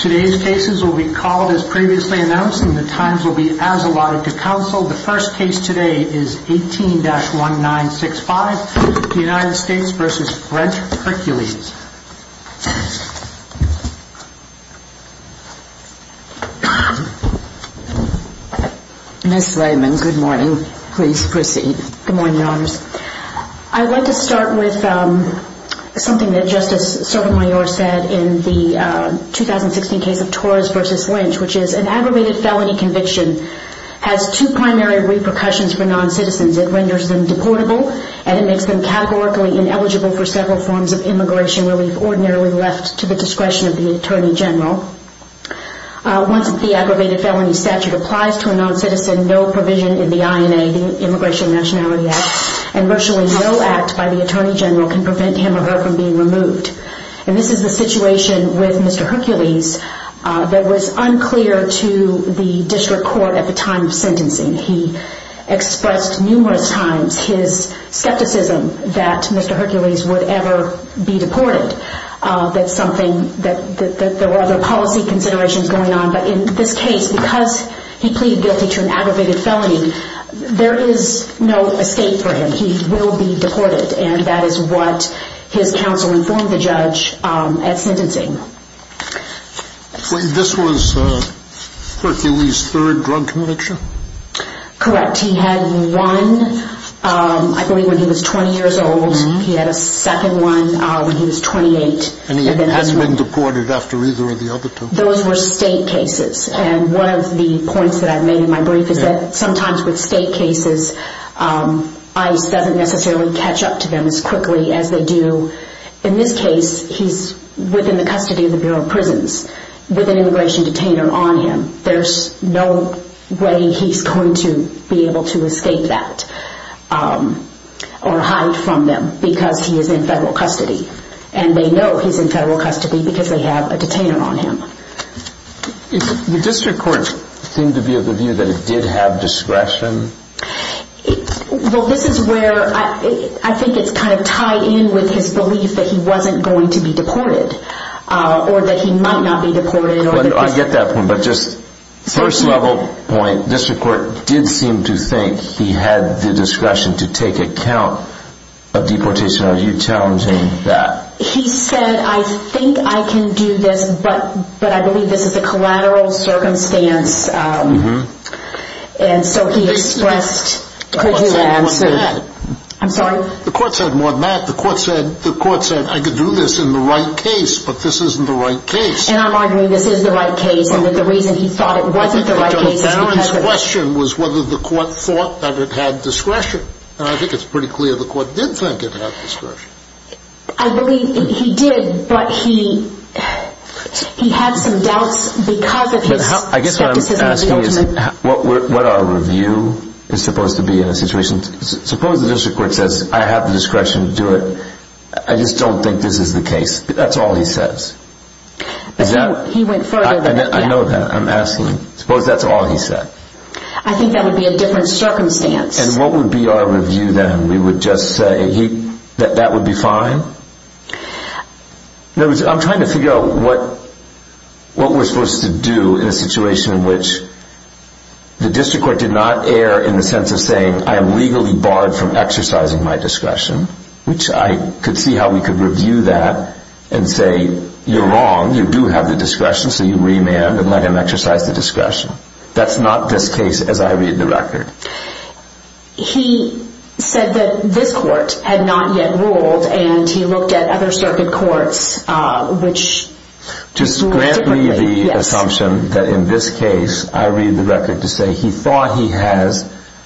Today's cases will be called as previously announced and the times will be as allotted to counsel. The first case today is 18-1965, the United States v. French Hercules. Ms. Layman, good morning. Please proceed. Good morning, Your Honors. I'd like to start with something that Justice Sotomayor said in the 2016 case of Torres v. Lynch, which is an aggravated felony conviction has two primary repercussions for noncitizens. It renders them deportable and it makes them categorically ineligible for several forms of immigration relief ordinarily left to the discretion of the Attorney General. Once the aggravated felony statute applies to a noncitizen, no provision in the INA, the Immigration Nationality Act, and virtually no act by the Attorney General can prevent him or her from being removed. And this is the situation with Mr. Hercules that was unclear to the District Court at the time of sentencing. He expressed numerous times his skepticism that Mr. Hercules would ever be deported. There were other policy considerations going on, but in this case, because he pleaded guilty to an aggravated felony, there is no escape for him. He will be deported and that is what his counsel informed the judge at sentencing. This was Hercules' third drug conviction? Correct. He had one, I believe, when he was 20 years old. He had a second one when he was 28. And he hasn't been deported after either of the other two? Those were state cases and one of the points that I made in my brief is that sometimes with state cases, ICE doesn't necessarily catch up to them as quickly as they do. In this case, he's within the custody of the Bureau of Prisons with an immigration detainer on him. There's no way he's going to be able to escape that or hide from them because he is in federal custody. And they know he's in federal custody because they have a detainer on him. The District Court seemed to be of the view that it did have discretion? Well, this is where I think it's kind of tied in with his belief that he wasn't going to be deported or that he might not be deported. I get that point, but just first level point, the District Court did seem to think he had the discretion to take account of deportation. Are you challenging that? He said, I think I can do this, but I believe this is a collateral circumstance. And so he expressed his answer. The court said more than that. I'm sorry? The court said more than that. The court said, I can do this in the right case, but this isn't the right case. And I'm arguing this is the right case and that the reason he thought it wasn't the right case is because of that. But the question was whether the court thought that it had discretion. And I think it's pretty clear the court did think it had discretion. I believe he did, but he had some doubts because of his skepticism. I guess what I'm asking is what our review is supposed to be in a situation? Suppose the District Court says, I have the discretion to do it. I just don't think this is the case. That's all he says. I think he went further than that. I know that. I'm asking. Suppose that's all he said. I think that would be a different circumstance. And what would be our review then? We would just say that that would be fine? I'm trying to figure out what we're supposed to do in a situation in which the District Court did not err in the sense of saying, I am legally barred from exercising my discretion, which I could see how we could review that and say, you're wrong. You do have the discretion, so you remand and let him exercise the discretion. That's not this case as I read the record. He said that this court had not yet ruled, and he looked at other circuit courts which ruled differently. Just grant me the assumption that in this case, I read the record to say he thought he has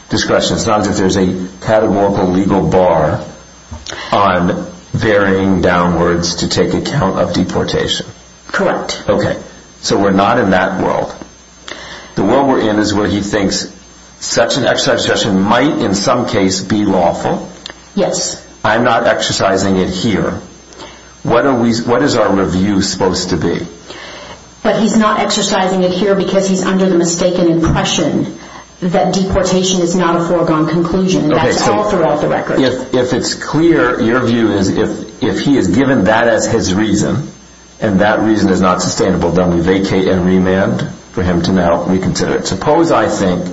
discretion. It's not as if there's a categorical legal bar on veering downwards to take account of deportation. Correct. Okay, so we're not in that world. The world we're in is where he thinks such an exercise of discretion might in some case be lawful. Yes. I'm not exercising it here. What is our review supposed to be? He's not exercising it here because he's under the mistaken impression that deportation is not a foregone conclusion. That's all throughout the record. If it's clear, your view is if he is given that as his reason, and that reason is not sustainable, then we vacate and remand for him to now reconsider it. Suppose I think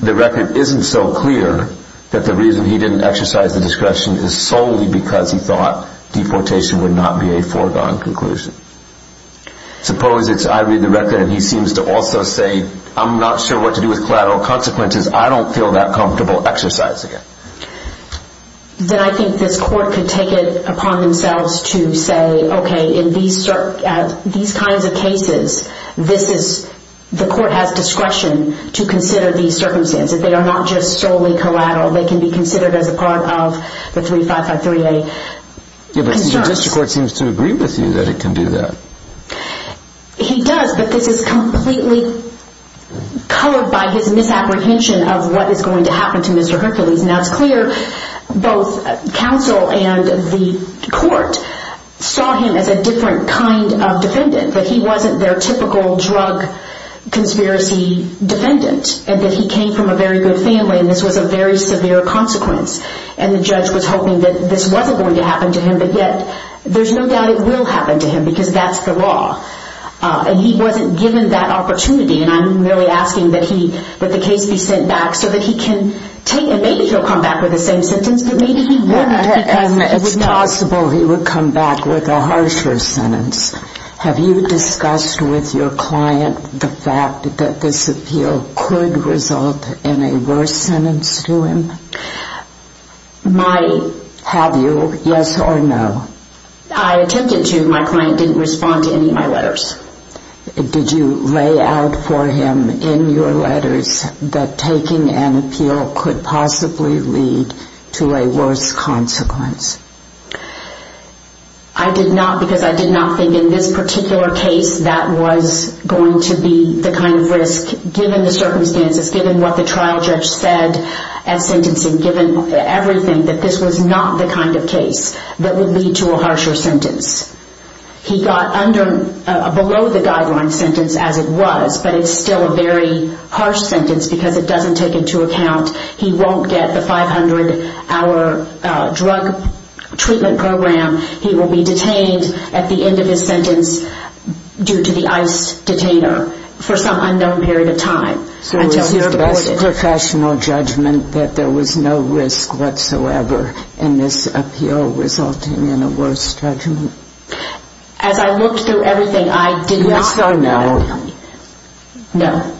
the record isn't so clear that the reason he didn't exercise the discretion is solely because he thought deportation would not be a foregone conclusion. Suppose it's I read the record and he seems to also say, I'm not sure what to do with collateral consequences. I don't feel that comfortable exercising it. Then I think this court could take it upon themselves to say, okay, in these kinds of cases, the court has discretion to consider these circumstances. They are not just solely collateral. They can be considered as a part of the 3553A concerns. Your district court seems to agree with you that it can do that. He does, but this is completely colored by his misapprehension of what is going to happen to Mr. Hercules. Now it's clear both counsel and the court saw him as a different kind of defendant. But he wasn't their typical drug conspiracy defendant, and that he came from a very good family, and this was a very severe consequence. And the judge was hoping that this wasn't going to happen to him. But yet there's no doubt it will happen to him because that's the law. And he wasn't given that opportunity. And I'm really asking that he let the case be sent back so that he can take it. Maybe he'll come back with the same sentence, but maybe he won't. It's possible he would come back with a harsher sentence. Have you discussed with your client the fact that this appeal could result in a worse sentence to him? My... Have you, yes or no? I attempted to. My client didn't respond to any of my letters. Did you lay out for him in your letters that taking an appeal could possibly lead to a worse consequence? I did not because I did not think in this particular case that was going to be the kind of risk, given the circumstances, given what the trial judge said at sentencing, given everything, that this was not the kind of case that would lead to a harsher sentence. He got under, below the guideline sentence as it was, but it's still a very harsh sentence because it doesn't take into account he won't get the 500-hour drug treatment program. He will be detained at the end of his sentence due to the ICE detainer for some unknown period of time until he's deported. So it was his best professional judgment that there was no risk whatsoever in this appeal resulting in a worse judgment? As I looked through everything, I did not... Yes or no? No.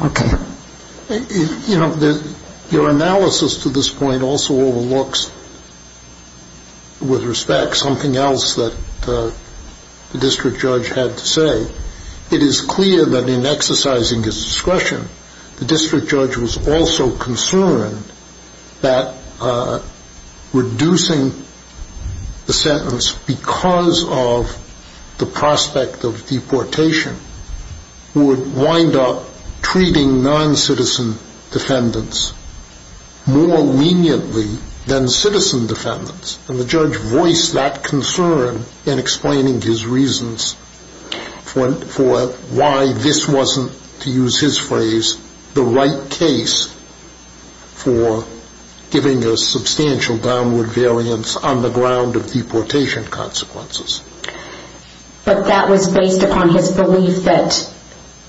Okay. Your analysis to this point also overlooks, with respect, something else that the district judge had to say. It is clear that in exercising his discretion, the district judge was also concerned that reducing the sentence because of the prospect of deportation would wind up treating non-citizen defendants more leniently than citizen defendants. And the judge voiced that concern in explaining his reasons for why this wasn't, to use his phrase, the right case for giving a substantial downward variance on the ground of deportation consequences. But that was based upon his belief that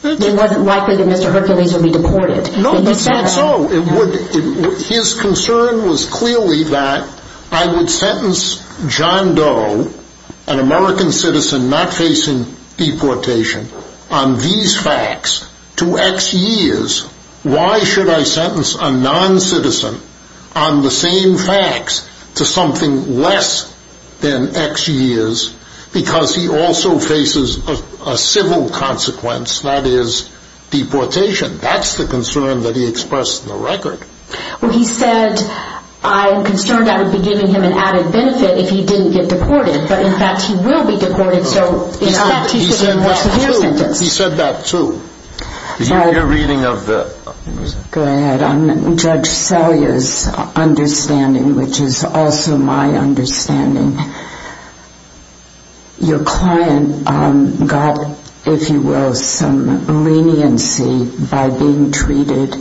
it wasn't likely that Mr. Hercules would be deported. No, that's not so. His concern was clearly that I would sentence John Doe, an American citizen not facing deportation, on these facts to X years. Why should I sentence a non-citizen on the same facts to something less than X years? Because he also faces a civil consequence, that is, deportation. That's the concern that he expressed in the record. Well, he said, I'm concerned I would be giving him an added benefit if he didn't get deported. But, in fact, he will be deported. He said that, too. He said that, too. Your reading of the... Go ahead. Judge Selya's understanding, which is also my understanding, your client got, if you will, some leniency by being treated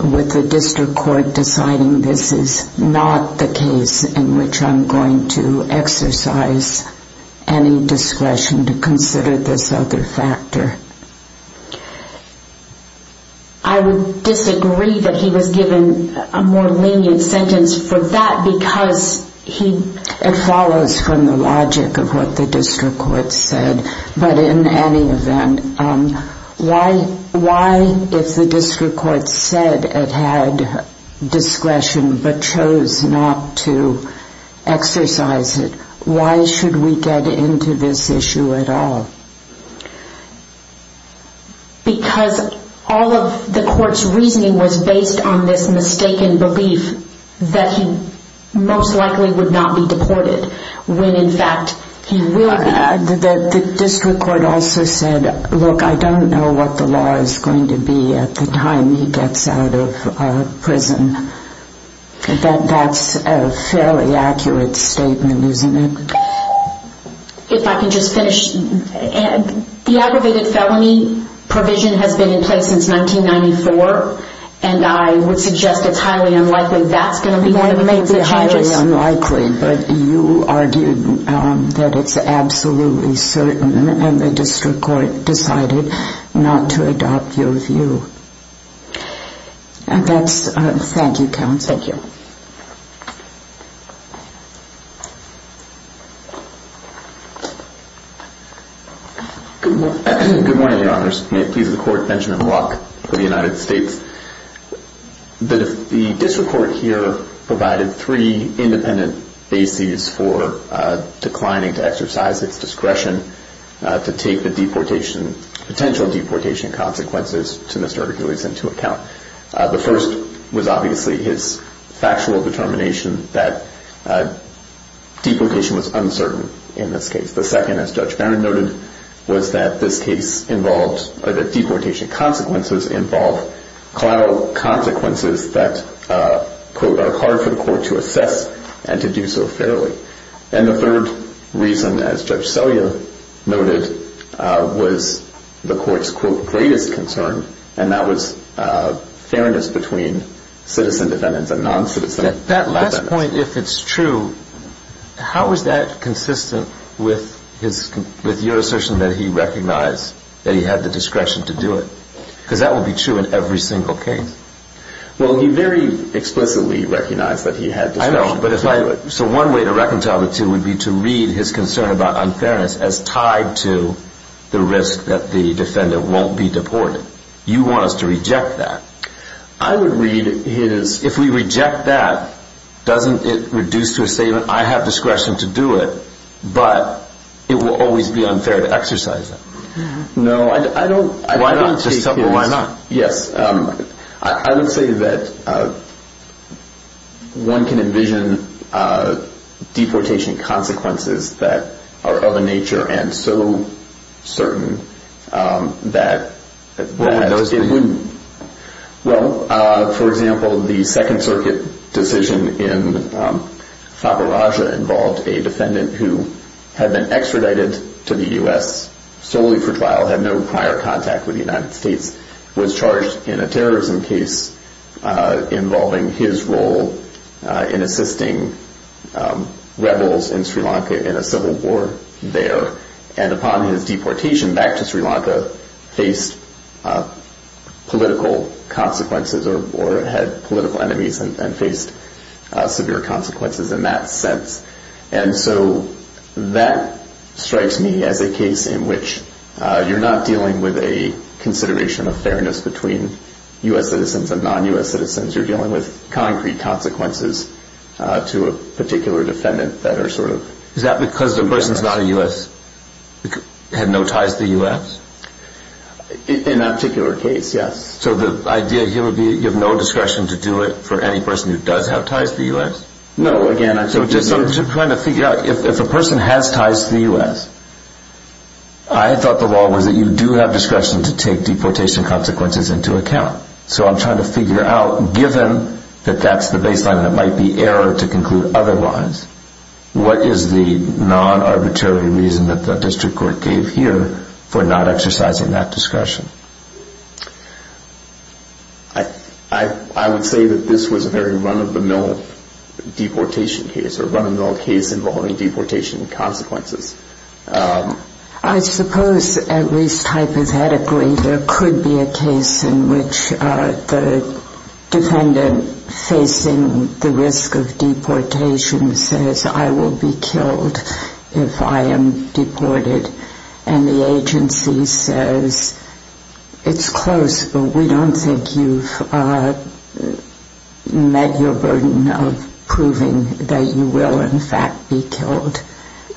with the district court deciding this is not the case in which I'm going to exercise any discretion to consider this other factor. I would disagree that he was given a more lenient sentence for that because he... It follows from the logic of what the district court said. But, in any event, why, if the district court said it had discretion but chose not to exercise it, why should we get into this issue at all? Because all of the court's reasoning was based on this mistaken belief that he most likely would not be deported when, in fact, he will be. The district court also said, look, I don't know what the law is going to be at the time he gets out of prison. That's a fairly accurate statement, isn't it? If I can just finish. The aggravated felony provision has been in place since 1994, and I would suggest it's highly unlikely that's going to be one of the major charges. That may be highly unlikely, but you argued that it's absolutely certain, and the district court decided not to adopt your view. Thank you, counsel. Thank you. Good morning, Your Honors. May it please the Court, Benjamin Locke for the United States. The district court here provided three independent bases for declining to exercise its discretion to take the deportation, potential deportation consequences to Mr. Ergulis into account. The first was obviously his factual determination that deportation was uncertain in this case. The second, as Judge Barron noted, was that this case involved, or that deportation consequences involve collateral consequences that, quote, are hard for the court to assess and to do so fairly. And the third reason, as Judge Selya noted, was the court's, quote, greatest concern, and that was fairness between citizen defendants and non-citizen defendants. At this point, if it's true, how is that consistent with your assertion that he recognized that he had the discretion to do it? Because that would be true in every single case. Well, he very explicitly recognized that he had discretion to do it. I know, but if I – so one way to reconcile the two would be to read his concern about unfairness as tied to the risk that the defendant won't be deported. You want us to reject that. I would read his – If we reject that, doesn't it reduce to a statement, I have discretion to do it, but it will always be unfair to exercise it. No, I don't – Why not? Just tell me why not. Yes, I would say that one can envision deportation consequences that are of a nature and so certain that – It wouldn't. Well, for example, the Second Circuit decision in Faberage involved a defendant who had been extradited to the U.S. solely for trial, had no prior contact with the United States, was charged in a terrorism case involving his role in assisting rebels in Sri Lanka in a civil war there. And upon his deportation back to Sri Lanka, faced political consequences or had political enemies and faced severe consequences in that sense. And so that strikes me as a case in which you're not dealing with a consideration of fairness between U.S. citizens and non-U.S. citizens. You're dealing with concrete consequences to a particular defendant that are sort of – Is that because the person's not a U.S. – had no ties to the U.S.? In that particular case, yes. So the idea here would be you have no discretion to do it for any person who does have ties to the U.S.? No, again – I'm just trying to figure out, if a person has ties to the U.S., I thought the law was that you do have discretion to take deportation consequences into account. So I'm trying to figure out, given that that's the baseline that might be error to conclude otherwise, what is the non-arbitrary reason that the district court gave here for not exercising that discretion? I would say that this was a very run-of-the-mill deportation case, or run-of-the-mill case involving deportation consequences. I suppose, at least hypothetically, there could be a case in which the defendant facing the risk of deportation says, I will be killed if I am deported, and the agency says, it's close, but we don't think you've met your burden of proving that you will, in fact, be killed.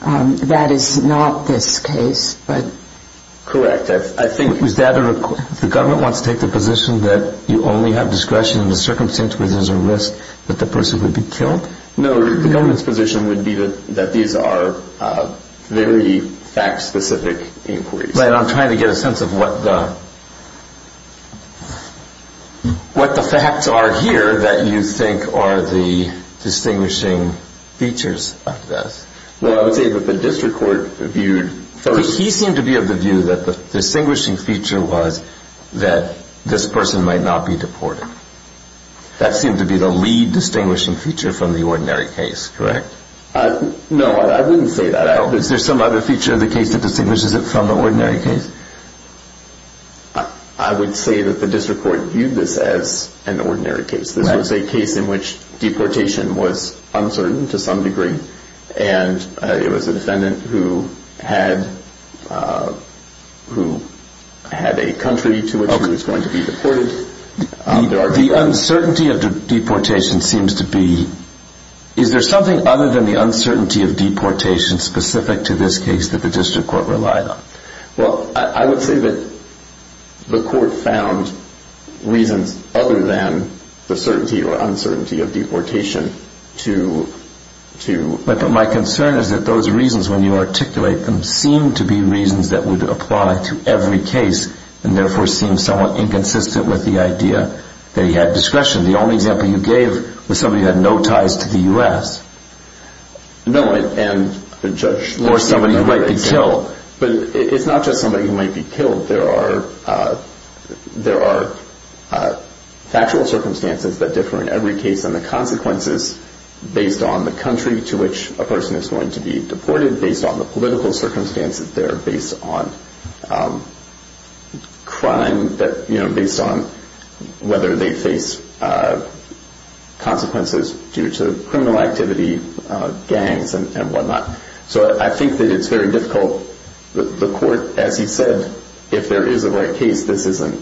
That is not this case, but – Correct. I think – Is that a – the government wants to take the position that you only have discretion in the circumstances where there's a risk that the person would be killed? No. The government's position would be that these are very fact-specific inquiries. Right. I'm trying to get a sense of what the facts are here that you think are the distinguishing features of this. Well, I would say that the district court viewed – He seemed to be of the view that the distinguishing feature was that this person might not be deported. That seemed to be the lead distinguishing feature from the ordinary case, correct? No, I wouldn't say that. Is there some other feature of the case that distinguishes it from the ordinary case? I would say that the district court viewed this as an ordinary case. This was a case in which deportation was uncertain to some degree, and it was a defendant who had a country to which he was going to be deported. The uncertainty of deportation seems to be – Is there something other than the uncertainty of deportation specific to this case that the district court relied on? Well, I would say that the court found reasons other than the certainty or uncertainty of deportation to – But my concern is that those reasons when you articulate them seem to be reasons that would apply to every case and therefore seem somewhat inconsistent with the idea that he had discretion. The only example you gave was somebody who had no ties to the U.S. No, and – Or somebody who might be killed. But it's not just somebody who might be killed. There are factual circumstances that differ in every case, and the consequences based on the country to which a person is going to be deported, based on the political circumstances there, based on crime, based on whether they face consequences due to criminal activity, gangs, and whatnot. So I think that it's very difficult. The court, as he said, if there is a right case, this isn't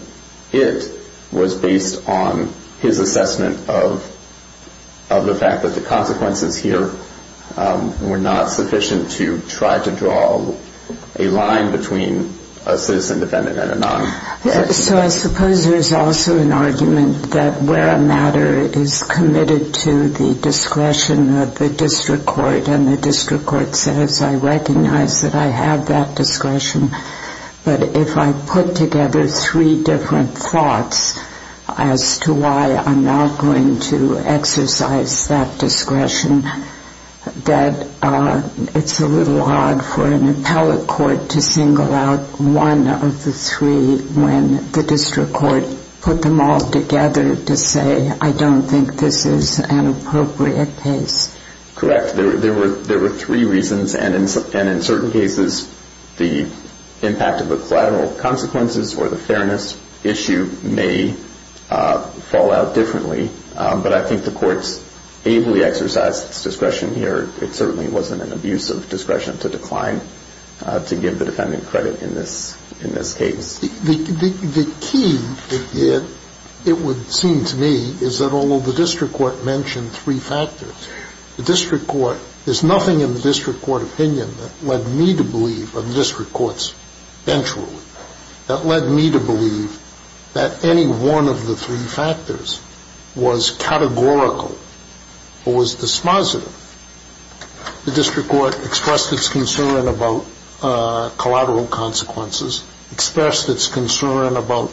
it, was based on his assessment of the fact that the consequences here were not sufficient to try to draw a line between a citizen defendant and a non-citizen defendant. So I suppose there's also an argument that where a matter is committed to the discretion of the district court and the district court says, I recognize that I have that discretion, but if I put together three different thoughts as to why I'm not going to exercise that discretion, that it's a little hard for an appellate court to single out one of the three when the district court put them all together to say, I don't think this is an appropriate case. Correct. There were three reasons, and in certain cases the impact of the collateral consequences or the fairness issue may fall out differently. But I think the court's ably exercised its discretion here. It certainly wasn't an abuse of discretion to decline to give the defendant credit in this case. The key, it would seem to me, is that although the district court mentioned three factors, the district court, there's nothing in the district court opinion that led me to believe, or the district court's bench rule, that led me to believe that any one of the three factors was categorical or was dispositive. The district court expressed its concern about collateral consequences, expressed its concern about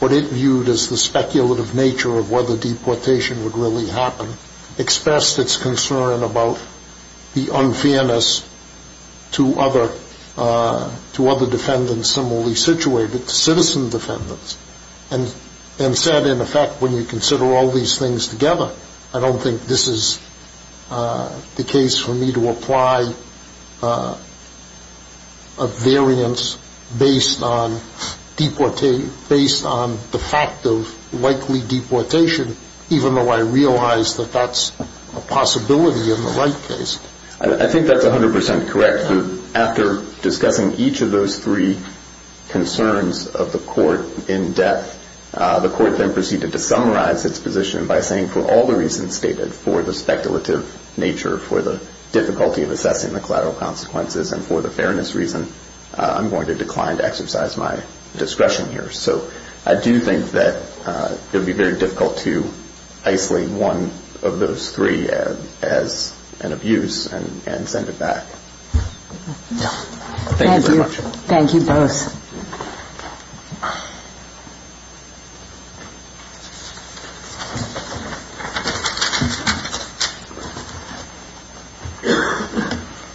what it viewed as the speculative nature of whether deportation would really happen, expressed its concern about the unfairness to other defendants similarly situated, to citizen defendants, and said, in effect, when you consider all these things together, I don't think this is the case for me to apply a variance based on the fact of likely deportation, even though I realize that that's a possibility in the Wright case. I think that's 100% correct. After discussing each of those three concerns of the court in depth, the court then proceeded to summarize its position by saying, for all the reasons stated, for the speculative nature, for the difficulty of assessing the collateral consequences, and for the fairness reason, I'm going to decline to exercise my discretion here. So I do think that it would be very difficult to isolate one of those three as an abuse and send it back. Thank you very much. Thank you both.